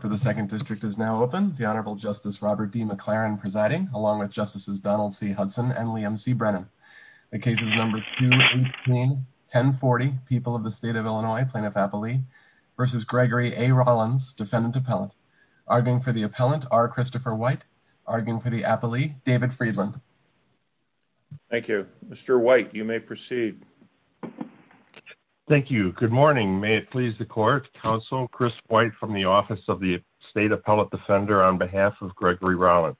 for the second district is now open. The Honorable Justice Robert D. McLaren presiding, along with Justices Donald C. Hudson and Liam C. Brennan. The case is number 2-18-1040, People of the State of Illinois, Plaintiff-Appellee v. Gregory A. Rollins, Defendant-Appellant. Arguing for the Appellant, R. Christopher White. Arguing for the Appellee, David Friedland. Thank you. Mr. White, you may proceed. Thank you. Good morning. May it please the Court, Counsel Chris White from the Office of the State Appellate Defender on behalf of Gregory Rollins.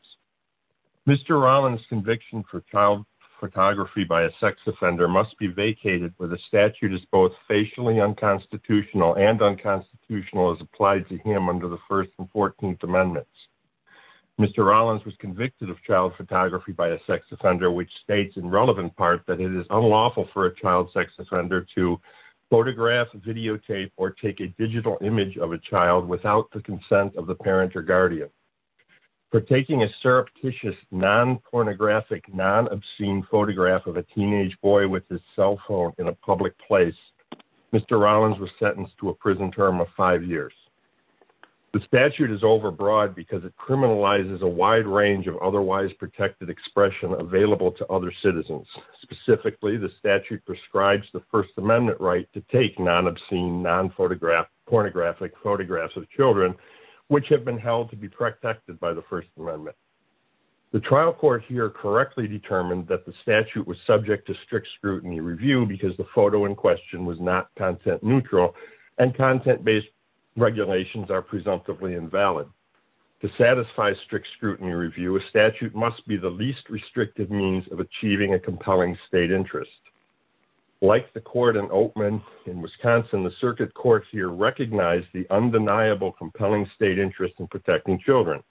Mr. Rollins' conviction for child photography by a sex offender must be vacated with a statute as both facially unconstitutional and unconstitutional as applied to him under the First and Fourteenth Amendments. Mr. Rollins was convicted of child photography by a sex offender, which states in relevant part that it is unlawful for a child sex offender to photograph, videotape, or take a digital image of a child without the consent of the parent or guardian. For taking a surreptitious, non-pornographic, non-obscene photograph of a teenage boy with his cell phone in a public place, Mr. Rollins was sentenced to a prison term of five years. The statute is overbroad because it criminalizes a wide range of otherwise protected expression available to other citizens. Specifically, the statute prescribes the First Amendment right to take non-obscene, non-pornographic photographs of children, which have been held to be protected by the First Amendment. The trial court here correctly determined that the statute was subject to strict scrutiny review because the photo in question was not content neutral and content-based regulations are presumptively invalid. To satisfy strict scrutiny review, a statute must be the least restrictive means of achieving a compelling state interest. Like the court in Oatman in Wisconsin, the circuit courts here recognize the undeniable compelling state interest in protecting children.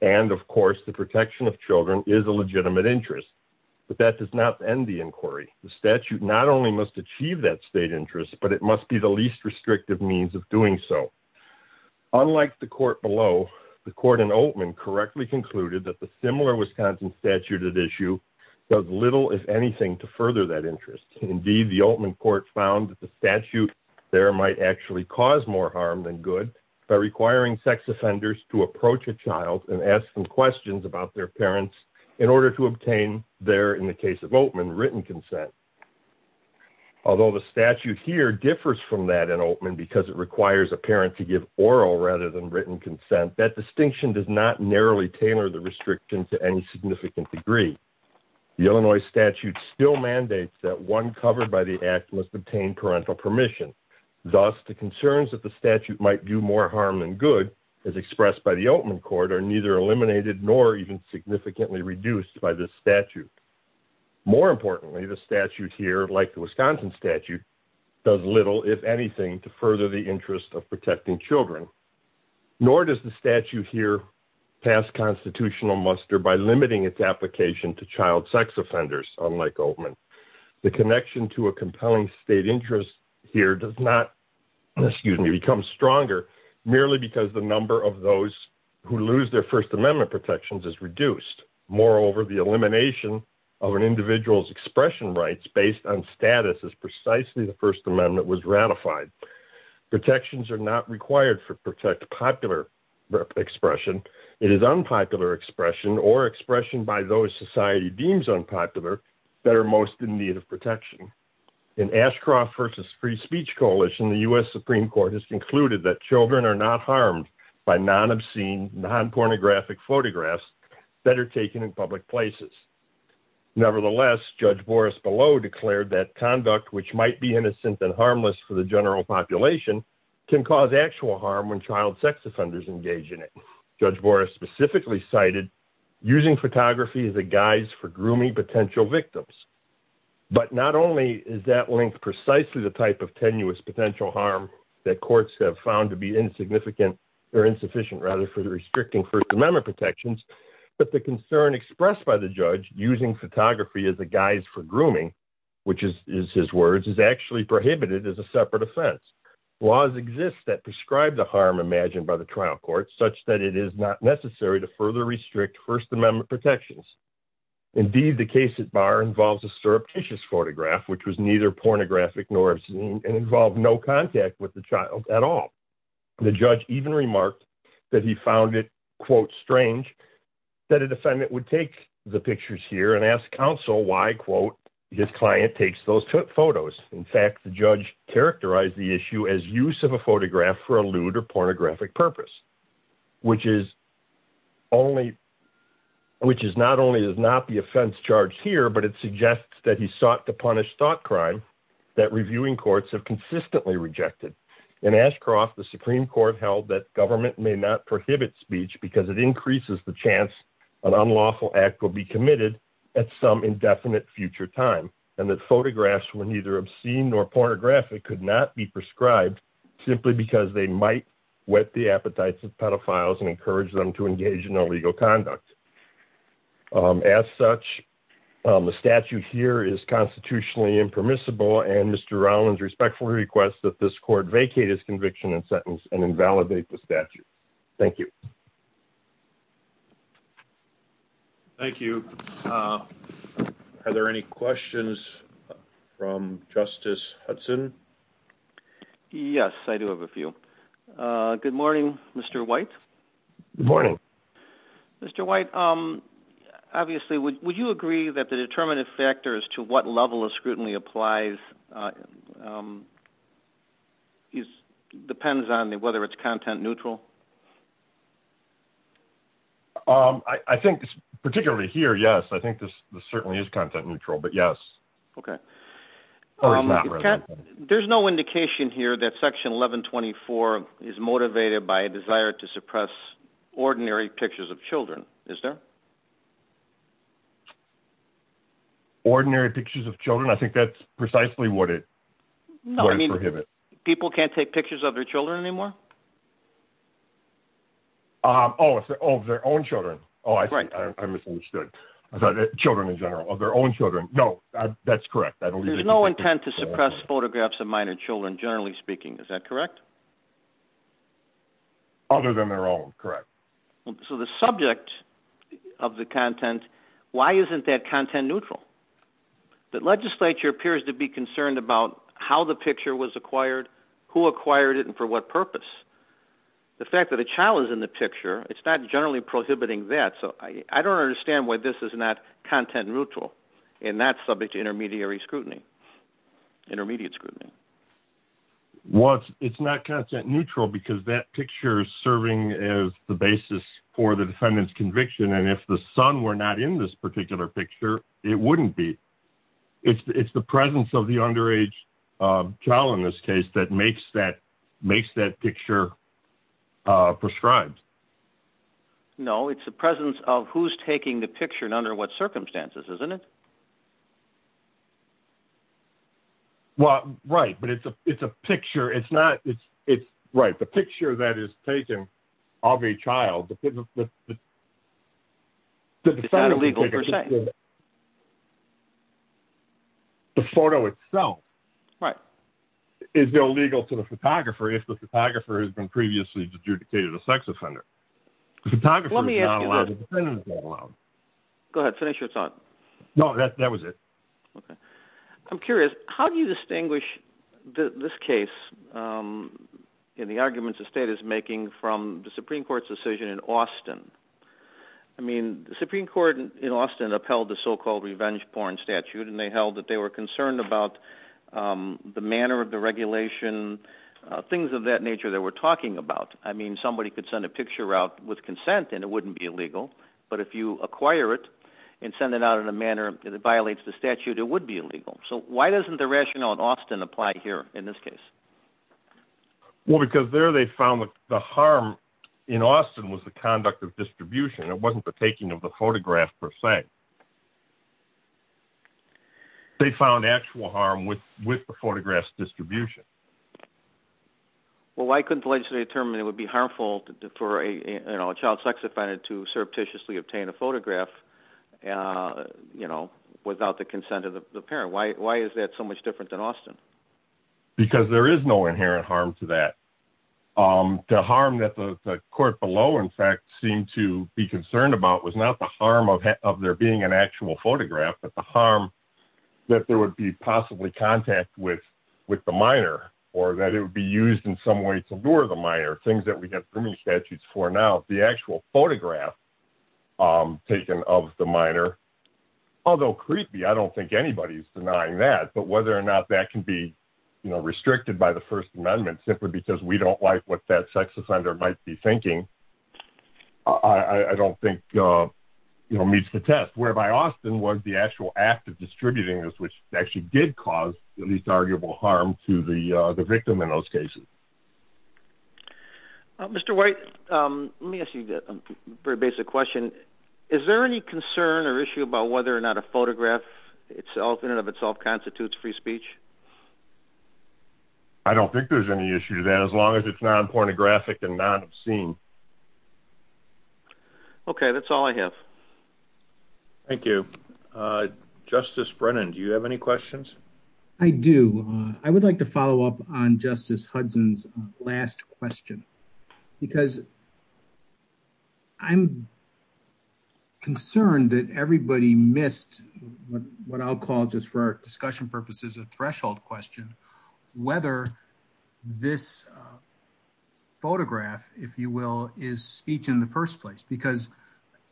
And, of course, the protection of children is a legitimate interest. But that does not end the inquiry. The statute not only must achieve that state interest, but it must be the least restrictive means of doing so. Unlike the court below, the court in Oatman correctly concluded that the similar Wisconsin statute at issue does little, if anything, to further that interest. Indeed, the Oatman court found that the statute there might actually cause more harm than good by requiring sex offenders to approach a child and ask them questions about their parents in order to obtain their, in the case of Oatman, written consent. Although the statute here differs from that in Oatman because it requires a parent to give oral rather than written consent, that distinction does not narrowly tailor the restriction to any significant degree. The Illinois statute still mandates that one covered by the act must obtain parental permission. Thus, the concerns that the statute might do more harm than good, as expressed by the Oatman court, are neither eliminated nor even significantly reduced by this statute. More importantly, the statute here, like the Wisconsin statute, does little, if anything, to further the interest of protecting children. Nor does the statute here pass constitutional muster by limiting its application to child sex offenders, unlike Oatman. The connection to a compelling state interest here does not, excuse me, become stronger merely because the number of those who lose their First Amendment protections is reduced. Moreover, the elimination of an individual's expression rights based on status is precisely the First Amendment was ratified. Protections are not required to protect popular expression. It is unpopular expression or expression by those society deems unpopular that are most in need of protection. In Ashcroft versus Free Speech Coalition, the U.S. Supreme Court has concluded that children are not harmed by non-obscene, non-pornographic photographs that are taken in public places. Nevertheless, Judge Boris Bellow declared that conduct which might be innocent and harmless for the general population can cause actual harm when child sex offenders engage in it. Judge Boris specifically cited using photography as a guise for grooming potential victims. But not only is that link precisely the type of tenuous potential harm that courts have found to be insignificant or insufficient rather for restricting First Amendment protections, but the concern expressed by the judge using photography as a guise for grooming, which is his words, is actually prohibited as a separate offense. Laws exist that prescribe the harm imagined by the trial court such that it is not necessary to further restrict First Amendment protections. Indeed, the case at bar involves a surreptitious photograph, which was neither pornographic nor obscene and involved no contact with the child at all. The judge even remarked that he found it, quote, strange that a defendant would take the pictures here and ask counsel why, quote, his client takes those photos. In fact, the judge characterized the issue as use of a photograph for a lewd or pornographic purpose, which is only. Which is not only is not the offense charge here, but it suggests that he sought to punish thought crime that reviewing courts have consistently rejected. In Ashcroft, the Supreme Court held that government may not prohibit speech because it increases the chance an unlawful act will be committed at some indefinite future time. And that photographs were neither obscene nor pornographic could not be prescribed simply because they might whet the appetites of pedophiles and encourage them to engage in illegal conduct. As such, the statute here is constitutionally impermissible and Mr. Rollins respectfully requests that this court vacate his conviction and sentence and invalidate the statute. Thank you. Thank you. Are there any questions from Justice Hudson? Yes, I do have a few. Good morning, Mr. White. Morning. Mr. White, obviously, would you agree that the determinative factors to what level of scrutiny applies depends on whether it's content neutral? I think particularly here, yes, I think this certainly is content neutral, but yes. Okay. There's no indication here that section 1124 is motivated by a desire to suppress ordinary pictures of children, is there? Ordinary pictures of children? I think that's precisely what it prohibits. People can't take pictures of their children anymore? Of their own children. I misunderstood. Children in general, of their own children. No, that's correct. There's no intent to suppress photographs of minor children, generally speaking, is that correct? Other than their own, correct. So the subject of the content, why isn't that content neutral? The legislature appears to be concerned about how the picture was acquired, who acquired it, and for what purpose. The fact that a child is in the picture, it's not generally prohibiting that, so I don't understand why this is not content neutral in that subject of intermediary scrutiny. Intermediate scrutiny. Well, it's not content neutral because that picture is serving as the basis for the defendant's conviction, and if the son were not in this particular picture, it wouldn't be. It's the presence of the underage child in this case that makes that picture prescribed. No, it's the presence of who's taking the picture and under what circumstances, isn't it? Well, right, but it's a picture, it's not, it's, right, the picture that is taken of a child. It's not illegal per se. The photo itself. Right. Is illegal to the photographer if the photographer has been previously adjudicated a sex offender. The photographer is not allowed, the defendant is not allowed. Go ahead, finish your thought. That was it. I'm curious, how do you distinguish this case and the arguments the state is making from the Supreme Court's decision in Austin? I mean, the Supreme Court in Austin upheld the so-called revenge porn statute, and they held that they were concerned about the manner of the regulation, things of that nature that we're talking about. I mean, somebody could send a picture out with consent and it wouldn't be illegal, but if you acquire it and send it out in a manner that violates the statute, it would be illegal. So why doesn't the rationale in Austin apply here in this case? Well, because there they found that the harm in Austin was the conduct of distribution, it wasn't the taking of the photograph per se. They found actual harm with the photograph's distribution. Well, why couldn't the legislature determine it would be harmful for a child sex offender to surreptitiously obtain a photograph without the consent of the parent? Why is that so much different than Austin? Because there is no inherent harm to that. The harm that the court below, in fact, seemed to be concerned about was not the harm of there being an actual photograph, but the harm that there would be possibly contact with the minor, or that it would be used in some way to lure the minor. Things that we have criminal statutes for now, the actual photograph taken of the minor, although creepy, I don't think anybody's denying that. But whether or not that can be restricted by the First Amendment simply because we don't like what that sex offender might be thinking, I don't think meets the test. Whereby Austin was the actual act of distributing this, which actually did cause at least arguable harm to the victim in those cases. Mr. White, let me ask you a very basic question. Is there any concern or issue about whether or not a photograph in and of itself constitutes free speech? I don't think there's any issue to that as long as it's non-pornographic and non-obscene. Okay, that's all I have. Thank you. Justice Brennan, do you have any questions? I do. I would like to follow up on Justice Hudson's last question. Because I'm concerned that everybody missed what I'll call, just for discussion purposes, a threshold question. Whether this photograph, if you will, is speech in the first place.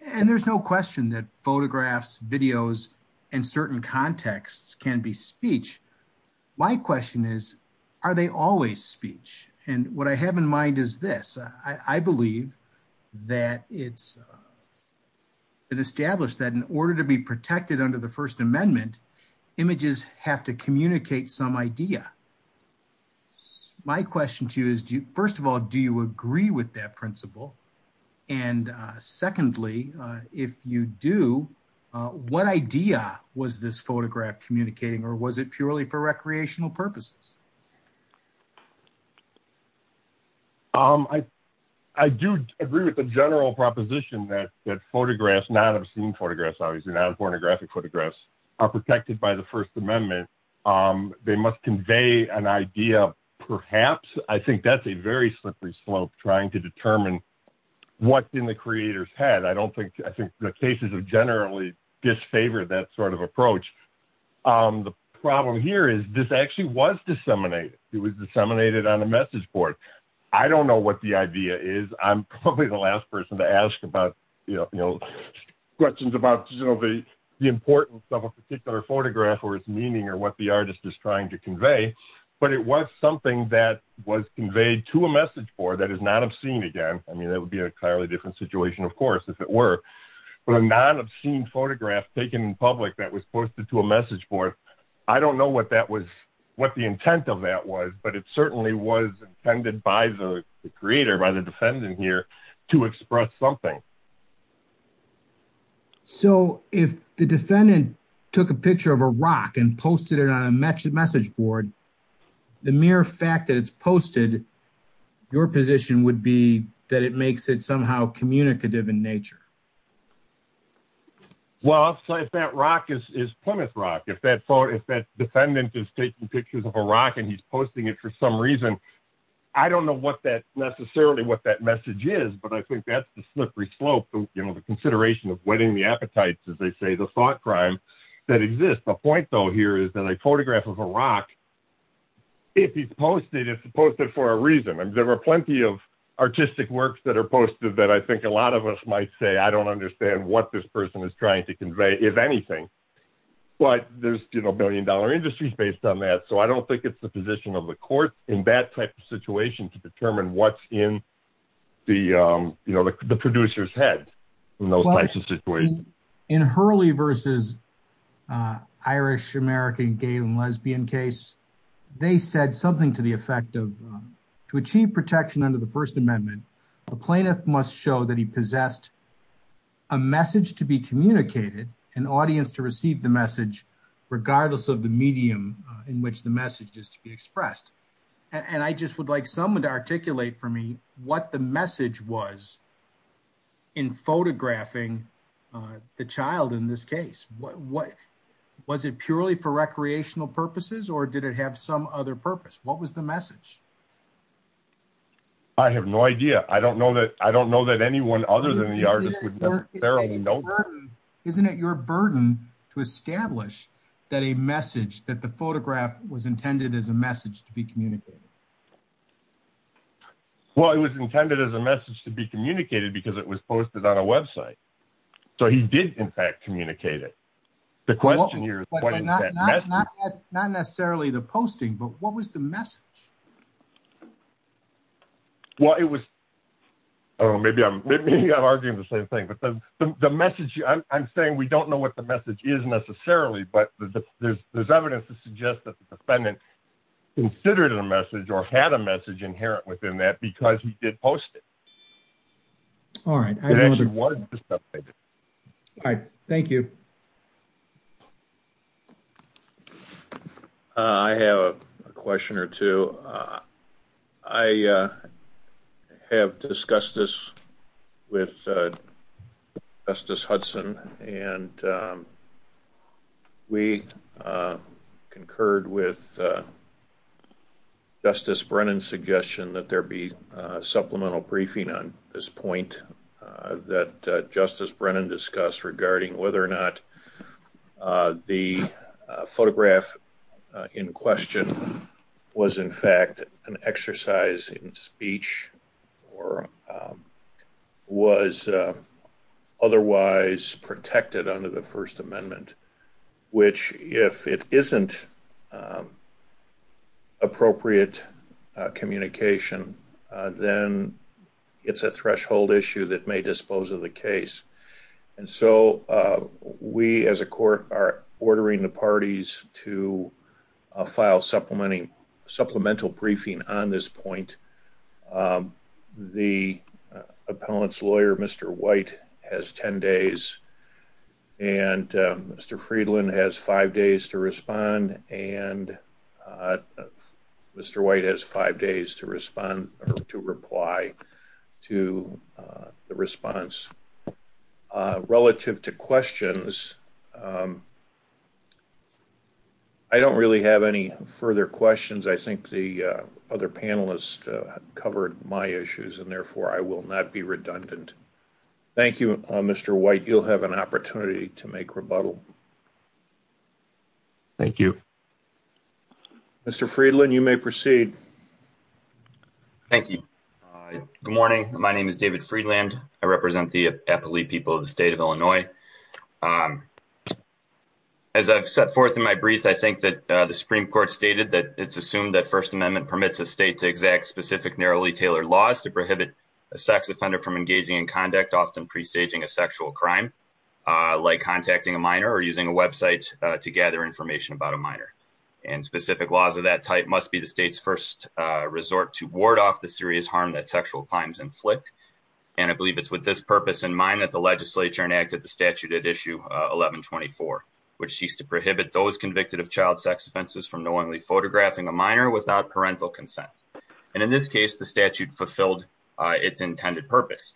And there's no question that photographs, videos, and certain contexts can be speech. My question is, are they always speech? And what I have in mind is this. I believe that it's been established that in order to be protected under the First Amendment, images have to communicate some idea. My question to you is, first of all, do you agree with that principle? And secondly, if you do, what idea was this photograph communicating, or was it purely for recreational purposes? I do agree with the general proposition that photographs, non-obscene photographs, obviously, not pornographic photographs, are protected by the First Amendment. They must convey an idea, perhaps. I think that's a very slippery slope trying to determine what's in the creator's head. I think the cases have generally disfavored that sort of approach. The problem here is this actually was disseminated. It was disseminated on a message board. I don't know what the idea is. I'm probably the last person to ask questions about the importance of a particular photograph or its meaning or what the artist is trying to convey. But it was something that was conveyed to a message board that is not obscene again. I mean, that would be a clearly different situation, of course, if it were. But a non-obscene photograph taken in public that was posted to a message board, I don't know what the intent of that was. But it certainly was intended by the creator, by the defendant here, to express something. So, if the defendant took a picture of a rock and posted it on a message board, the mere fact that it's posted, your position would be that it makes it somehow communicative in nature. Well, if that rock is Plymouth rock, if that defendant is taking pictures of a rock and he's posting it for some reason, I don't know necessarily what that message is. But I think that's the slippery slope, the consideration of whetting the appetites, as they say, the thought crime that exists. The point, though, here is that a photograph of a rock, if he's posted, it's posted for a reason. I mean, there are plenty of artistic works that are posted that I think a lot of us might say, I don't understand what this person is trying to convey, if anything. But there's, you know, billion-dollar industries based on that. So, I don't think it's the position of the court in that type of situation to determine what's in the producer's head in those types of situations. In Hurley v. Irish American Gay and Lesbian case, they said something to the effect of, to achieve protection under the First Amendment, a plaintiff must show that he possessed a message to be communicated, an audience to receive the message, regardless of the medium in which the message is to be expressed. And I just would like someone to articulate for me what the message was in photographing the child in this case. Was it purely for recreational purposes, or did it have some other purpose? What was the message? I have no idea. I don't know that anyone other than the artist would know that. Isn't it your burden to establish that a message, that the photograph was intended as a message to be communicated? Well, it was intended as a message to be communicated because it was posted on a website. So, he did, in fact, communicate it. The question here is what is that message? Not necessarily the posting, but what was the message? Well, it was, maybe I'm arguing the same thing, but the message, I'm saying we don't know what the message is necessarily, but there's evidence to suggest that the defendant considered a message or had a message inherent within that because he did post it. All right. All right. Thank you. I have a question or two. I have discussed this with Justice Hudson, and we concurred with Justice Brennan's suggestion that there be supplemental briefing on this point that Justice Brennan discussed regarding whether or not the photograph in question was, in fact, an exercise in speech or was otherwise protected under the First Amendment, which if it isn't appropriate communication, then it's a threshold issue that may dispose of the case. And so, we as a court are ordering the parties to file supplemental briefing on this point. The appellant's lawyer, Mr. White, has 10 days, and Mr. Friedland has five days to respond, and Mr. White has five days to respond or to reply to the response. Relative to questions, I don't really have any further questions. I think the other panelists covered my issues, and therefore, I will not be redundant. Thank you, Mr. White. You'll have an opportunity to make rebuttal. Thank you. Mr. Friedland, you may proceed. Thank you. Good morning. My name is David Friedland. I represent the Eppley people of the state of Illinois. As I've set forth in my brief, I think that the Supreme Court stated that it's assumed that First Amendment permits a state to exact specific, narrowly tailored laws to prohibit a sex offender from engaging in conduct often presaging a sexual crime, like contacting a minor or using a website to gather information about a minor. And specific laws of that type must be the state's first resort to ward off the serious harm that sexual crimes inflict. And I believe it's with this purpose in mind that the legislature enacted the statute at Issue 1124, which seeks to prohibit those convicted of child sex offenses from knowingly photographing a minor without parental consent. And in this case, the statute fulfilled its intended purpose.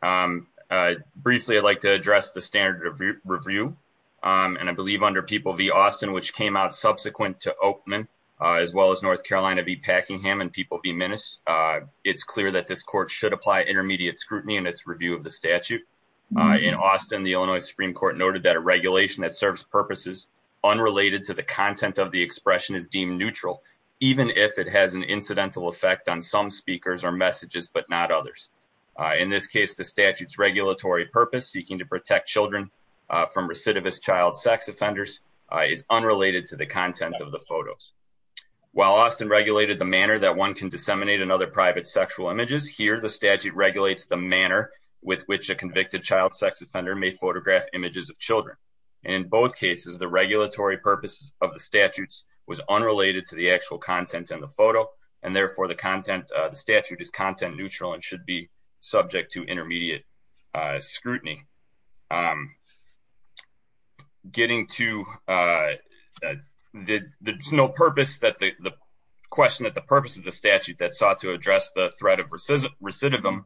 Briefly, I'd like to address the standard of review. And I believe under People v. Austin, which came out subsequent to Oakman, as well as North Carolina v. Packingham and People v. Minnis, it's clear that this court should apply intermediate scrutiny in its review of the statute. In Austin, the Illinois Supreme Court noted that a regulation that serves purposes unrelated to the content of the expression is deemed neutral, even if it has an incidental effect on some speakers or messages, but not others. In this case, the statute's regulatory purpose, seeking to protect children from recidivist child sex offenders, is unrelated to the content of the photos. While Austin regulated the manner that one can disseminate another private sexual images, here the statute regulates the manner with which a convicted child sex offender may photograph images of children. In both cases, the regulatory purpose of the statutes was unrelated to the actual content in the photo, and therefore the statute is content neutral and should be subject to intermediate scrutiny. Getting to the question that the purpose of the statute that sought to address the threat of recidivism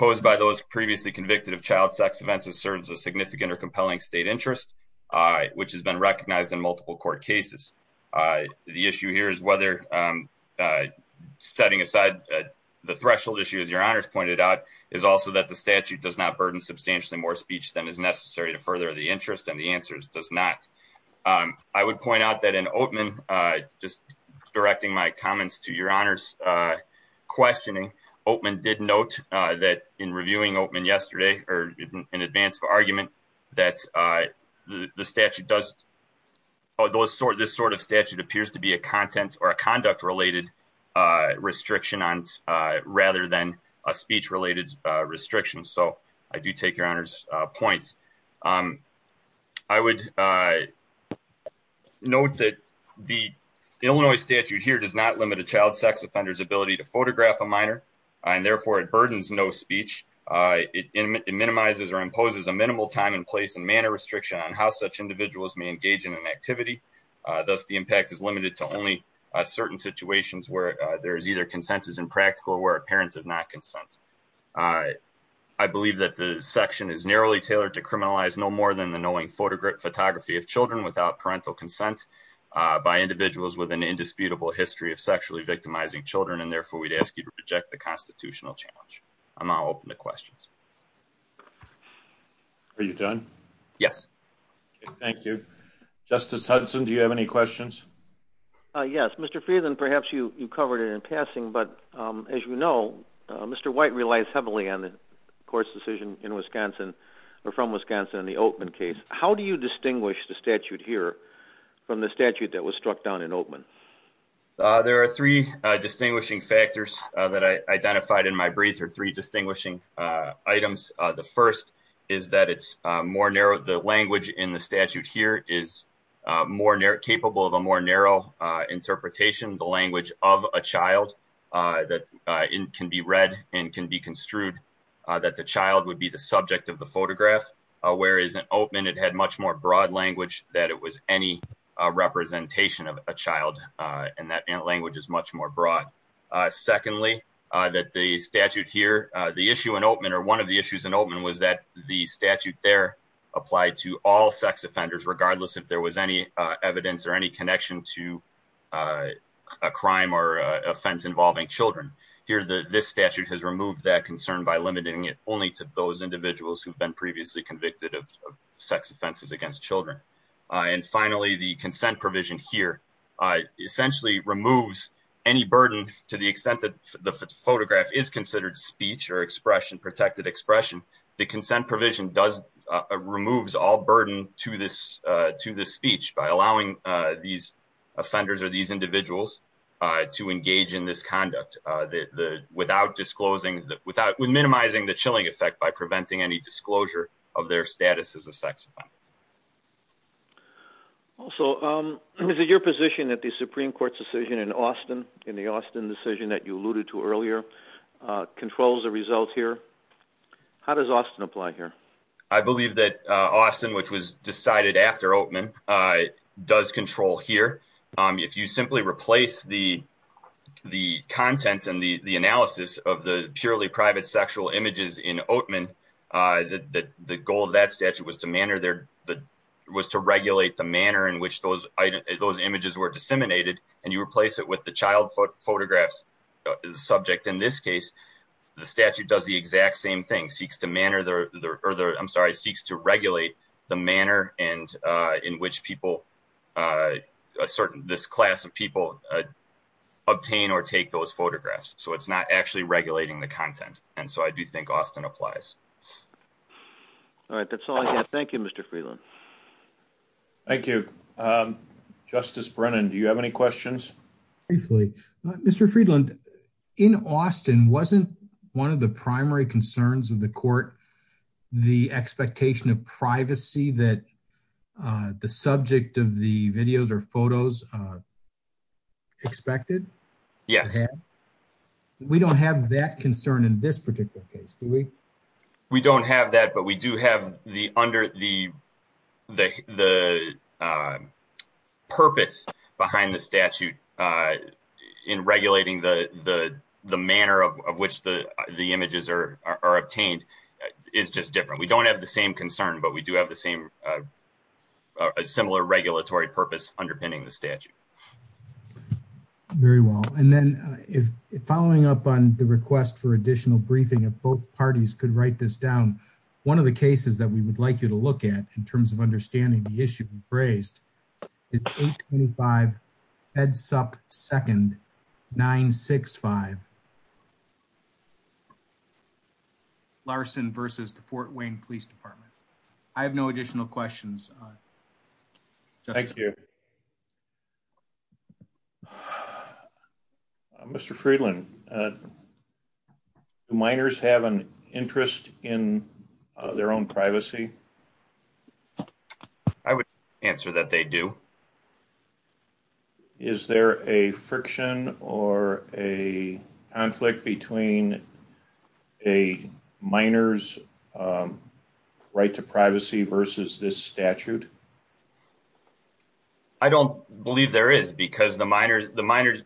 posed by those previously convicted of child sex offenses serves a significant or compelling state interest, which has been recognized in multiple court cases. The issue here is whether, setting aside the threshold issue as your honors pointed out, is also that the statute does not burden substantially more speech than is necessary to further the interest, and the answer is does not. I would point out that in Oatman, just directing my comments to your honors questioning, Oatman did note that in reviewing Oatman yesterday, or in advance of argument, that the statute does, this sort of statute appears to be a conduct-related restriction rather than a speech-related restriction, so I do take your honors points. I would note that the Illinois statute here does not limit a child sex offender's ability to photograph a minor, and therefore it burdens no speech. It minimizes or imposes a minimal time and place and manner restriction on how such individuals may engage in an activity. Thus, the impact is limited to only certain situations where there is either consensus in practical or where a parent does not consent. I believe that the section is narrowly tailored to criminalize no more than the knowing photography of children without parental consent by individuals with an indisputable history of sexually victimizing children, and therefore we'd ask you to reject the constitutional challenge. I'm now open to questions. Are you done? Yes. Thank you. Justice Hudson, do you have any questions? Yes, Mr. Friedland, perhaps you covered it in passing, but as you know, Mr. White relies heavily on the court's decision in Wisconsin, or from Wisconsin, in the Oatman case. How do you distinguish the statute here from the statute that was struck down in Oatman? There are three distinguishing factors that I identified in my brief, or three distinguishing items. The first is that it's more narrow. The language in the statute here is more capable of a more narrow interpretation. The language of a child that can be read and can be construed that the child would be the subject of the photograph, whereas in Oatman it had much more broad language that it was any representation of a child, and that language is much more broad. Secondly, that the statute here, the issue in Oatman, or one of the issues in Oatman, was that the statute there applied to all sex offenders, regardless if there was any evidence or any connection to a crime or offense involving children. Here, this statute has removed that concern by limiting it only to those individuals who've been previously convicted of sex offenses against children. And finally, the consent provision here essentially removes any burden to the extent that the photograph is considered speech or expression, protected expression. The consent provision removes all burden to this speech by allowing these offenders or these individuals to engage in this conduct without disclosing, minimizing the chilling effect by preventing any disclosure of their status as a sex offender. Also, is it your position that the Supreme Court's decision in Austin, in the Austin decision that you alluded to earlier, controls the results here? How does Austin apply here? I believe that Austin, which was decided after Oatman, does control here. If you simply replace the content and the analysis of the purely private sexual images in Oatman, the goal of that statute was to regulate the manner in which those images were disseminated, and you replace it with the child photographs subject. In this case, the statute does the exact same thing, seeks to manner their, I'm sorry, seeks to regulate the manner in which people, this class of people, obtain or take those photographs. So it's not actually regulating the content. And so I do think Austin applies. All right, that's all I have. Thank you, Mr. Freeland. Thank you. Justice Brennan, do you have any questions? Briefly. Mr. Freeland, in Austin, wasn't one of the primary concerns of the court, the expectation of privacy that the subject of the videos or photos expected? Yes. We don't have that concern in this particular case, do we? We don't have that, but we do have the purpose behind the statute in regulating the manner of which the images are obtained is just different. We don't have the same concern, but we do have a similar regulatory purpose underpinning the statute. Very well. And then following up on the request for additional briefing, if both parties could write this down. One of the cases that we would like you to look at in terms of understanding the issue you've raised is 825 Ed Supp 2nd 965. Larson versus the Fort Wayne Police Department. I have no additional questions. Thank you. Mr. Freeland. Minors have an interest in their own privacy. I would answer that they do. Is there a friction or a conflict between a minor's right to privacy versus this statute? I don't believe there is because the minors the minors.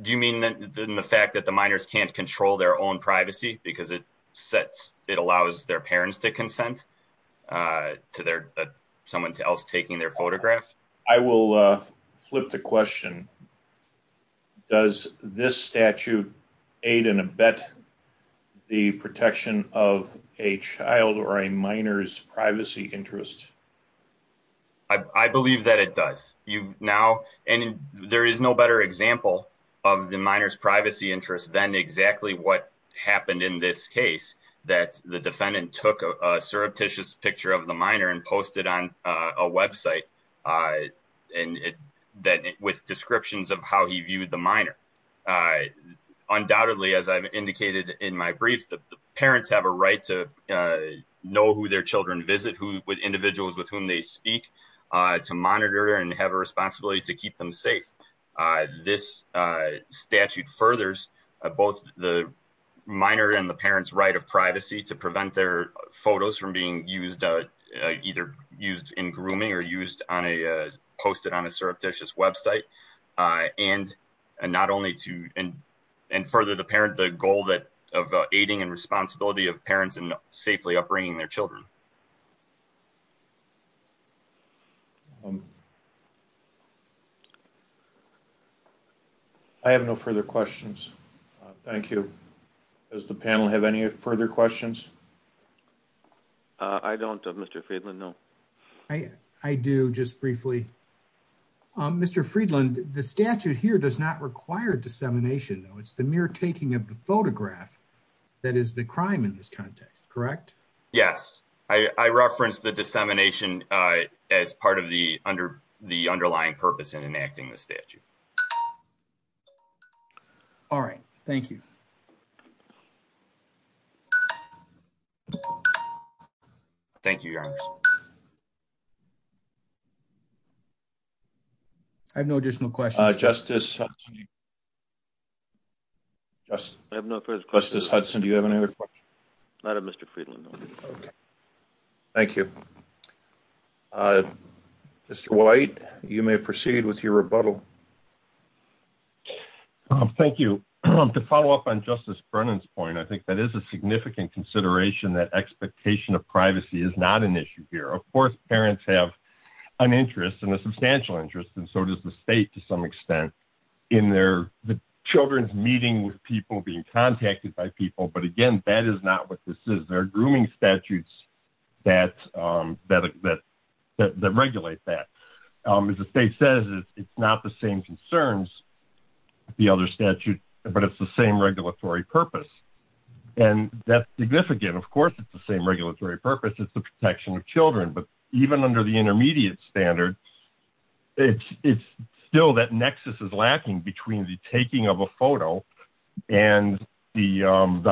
Do you mean that the fact that the minors can't control their own privacy because it sets it allows their parents to consent to their someone else taking their photograph. I will flip the question. Does this statute aid in a bet the protection of a child or a minor's privacy interest. I believe that it does you now and there is no better example of the minors privacy interest than exactly what happened in this case that the defendant took a surreptitious picture of the minor and posted on a website. And then with descriptions of how he viewed the minor. I undoubtedly as I've indicated in my brief that the parents have a right to know who their children visit who with individuals with whom they speak to monitor and have a responsibility to keep them safe. This statute furthers both the minor and the parents right of privacy to prevent their photos from being used either used in grooming or used on a posted on a surreptitious website. And not only to and and further the parent the goal that of aiding and responsibility of parents and safely upbringing their children. I have no further questions. Thank you. Does the panel have any further questions. I don't have Mr. Friedland. No, I do just briefly. Mr. Friedland the statute here does not require dissemination though. It's the mere taking of the photograph. That is the crime in this context. Correct. Yes, I referenced the dissemination as part of the under the underlying purpose and enacting the statute. All right. Thank you. Thank you. I have no additional questions justice. I have no further questions Hudson. Do you have any other questions. Thank you. Mr. White, you may proceed with your rebuttal. Thank you to follow up on Justice Brennan's point. I think that is a significant consideration that expectation of privacy is not an issue here. Of course, parents have an interest in the substantial interest. And so does the state to some extent in their children's meeting with people being contacted by people. But again, that is not what this is. It's not the same concern as the other statute, but it's the same regulatory purpose. And that's significant. Of course, it's the same regulatory purpose. It's the protection of children. But even under the intermediate standard, it's it's still that nexus is lacking between the taking of a photo and the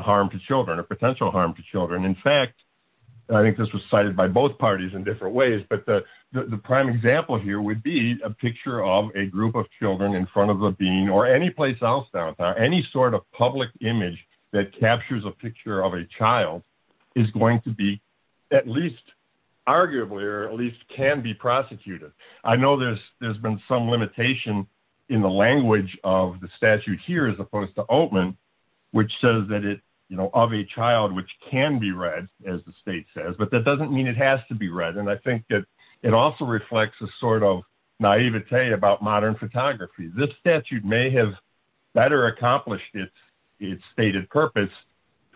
harm to children or potential harm to children. In fact, I think this was cited by both parties in different ways. But the prime example here would be a picture of a group of children in front of a bean or any place else. Any sort of public image that captures a picture of a child is going to be at least arguably or at least can be prosecuted. I know there's there's been some limitation in the language of the statute here, as opposed to open, which says that it of a child which can be read, as the state says, but that doesn't mean it has to be read. And I think that it also reflects a sort of naivete about modern photography. This statute may have better accomplished its stated purpose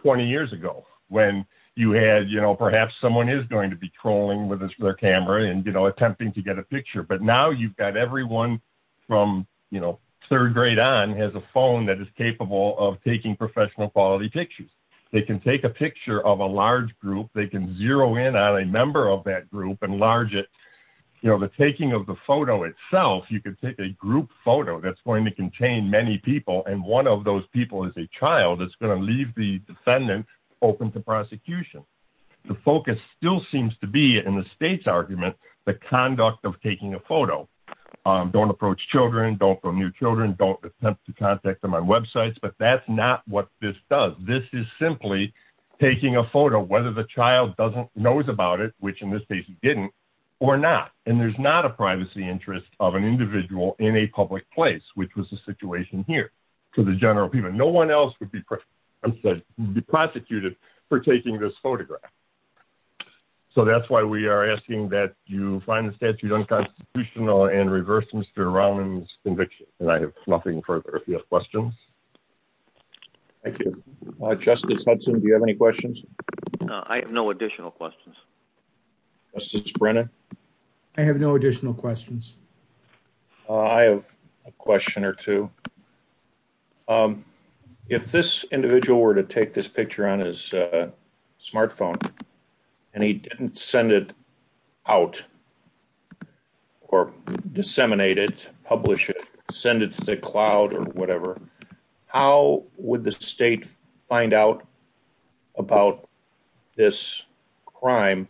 20 years ago when you had, you know, perhaps someone is going to be trolling with their camera and, you know, attempting to get a picture. But now you've got everyone from, you know, third grade on has a phone that is capable of taking professional quality pictures. They can take a picture of a large group. They can zero in on a member of that group and large it. You know, the taking of the photo itself, you can take a group photo that's going to contain many people. And one of those people is a child is going to leave the defendant open to prosecution. The focus still seems to be in the state's argument, the conduct of taking a photo. Don't approach children. Don't go near children. Don't attempt to contact them on websites. But that's not what this does. This is simply taking a photo, whether the child doesn't knows about it, which in this case didn't or not. And there's not a privacy interest of an individual in a public place, which was the situation here. No one else would be prosecuted for taking this photograph. So that's why we are asking that you find the statute unconstitutional and reverse Mr. Rollins conviction. And I have nothing further questions. Thank you, Justice Hudson. Do you have any questions? I have no additional questions. Justice Brennan. I have no additional questions. I have a question or two. If this individual were to take this picture on his smartphone and he didn't send it out or disseminate it, publish it, send it to the cloud or whatever, how would the state find out about this crime?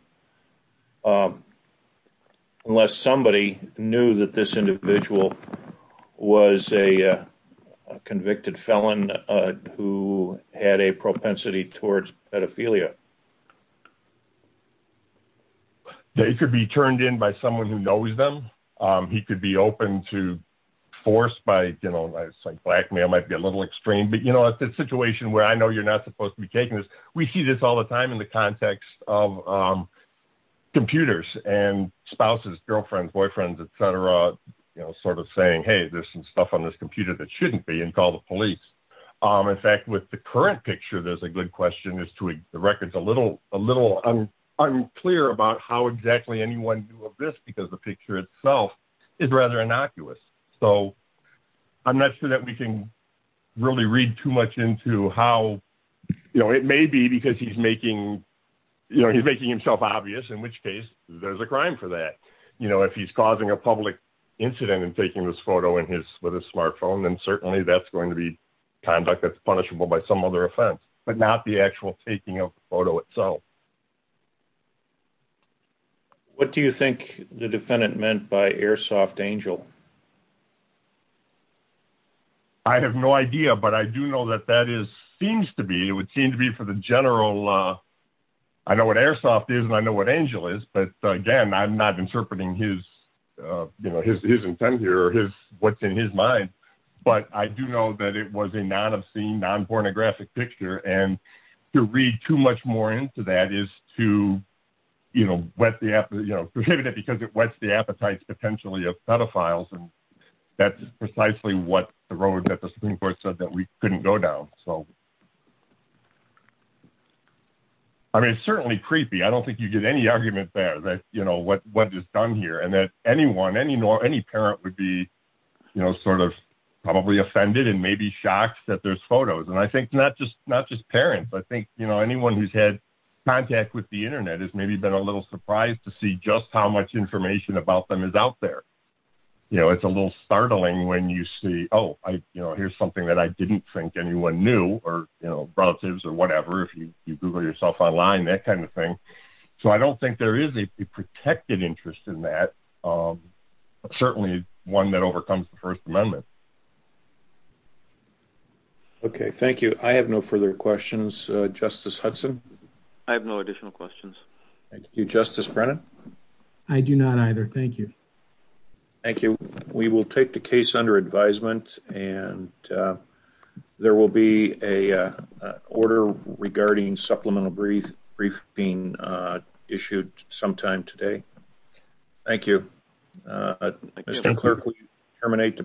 Unless somebody knew that this individual was a convicted felon who had a propensity towards pedophilia. It could be turned in by someone who knows them. He could be open to force by, you know, blackmail might be a little extreme. But, you know, it's a situation where I know you're not supposed to be taking this. We see this all the time in the context of computers and spouses, girlfriends, boyfriends, et cetera, you know, sort of saying, hey, there's some stuff on this computer that shouldn't be and call the police. In fact, with the current picture, there's a good question as to the records a little unclear about how exactly anyone knew of this because the picture itself is rather innocuous. So I'm not sure that we can really read too much into how, you know, it may be because he's making, you know, he's making himself obvious, in which case there's a crime for that. But, you know, if he's causing a public incident and taking this photo in his with a smartphone, then certainly that's going to be conduct that's punishable by some other offense, but not the actual taking of photo itself. What do you think the defendant meant by Airsoft Angel? I have no idea, but I do know that that is seems to be it would seem to be for the general. I know what Airsoft is and I know what Angel is, but again, I'm not interpreting his, you know, his his intent here, his what's in his mind. But I do know that it was a non obscene, non pornographic picture. And to read too much more into that is to, you know, what the you know, because it wets the appetites potentially of pedophiles. And that's precisely what the road that the Supreme Court said that we couldn't go down. So. I mean, it's certainly creepy. I don't think you get any argument there that, you know, what what is done here and that anyone, any nor any parent would be, you know, sort of probably offended and maybe shocked that there's photos. And I think not just not just parents. I think, you know, anyone who's had contact with the Internet has maybe been a little surprised to see just how much information about them is out there. You know, it's a little startling when you see, oh, you know, here's something that I didn't think anyone knew or, you know, relatives or whatever. If you Google yourself online, that kind of thing. So I don't think there is a protected interest in that. Certainly one that overcomes the First Amendment. OK, thank you. I have no further questions. Justice Hudson. I have no additional questions. Thank you, Justice Brennan. I do not either. Thank you. Thank you. We will take the case under advisement and there will be a order regarding supplemental brief brief being issued sometime today. Thank you. Mr. Clerk, we terminate the proceedings.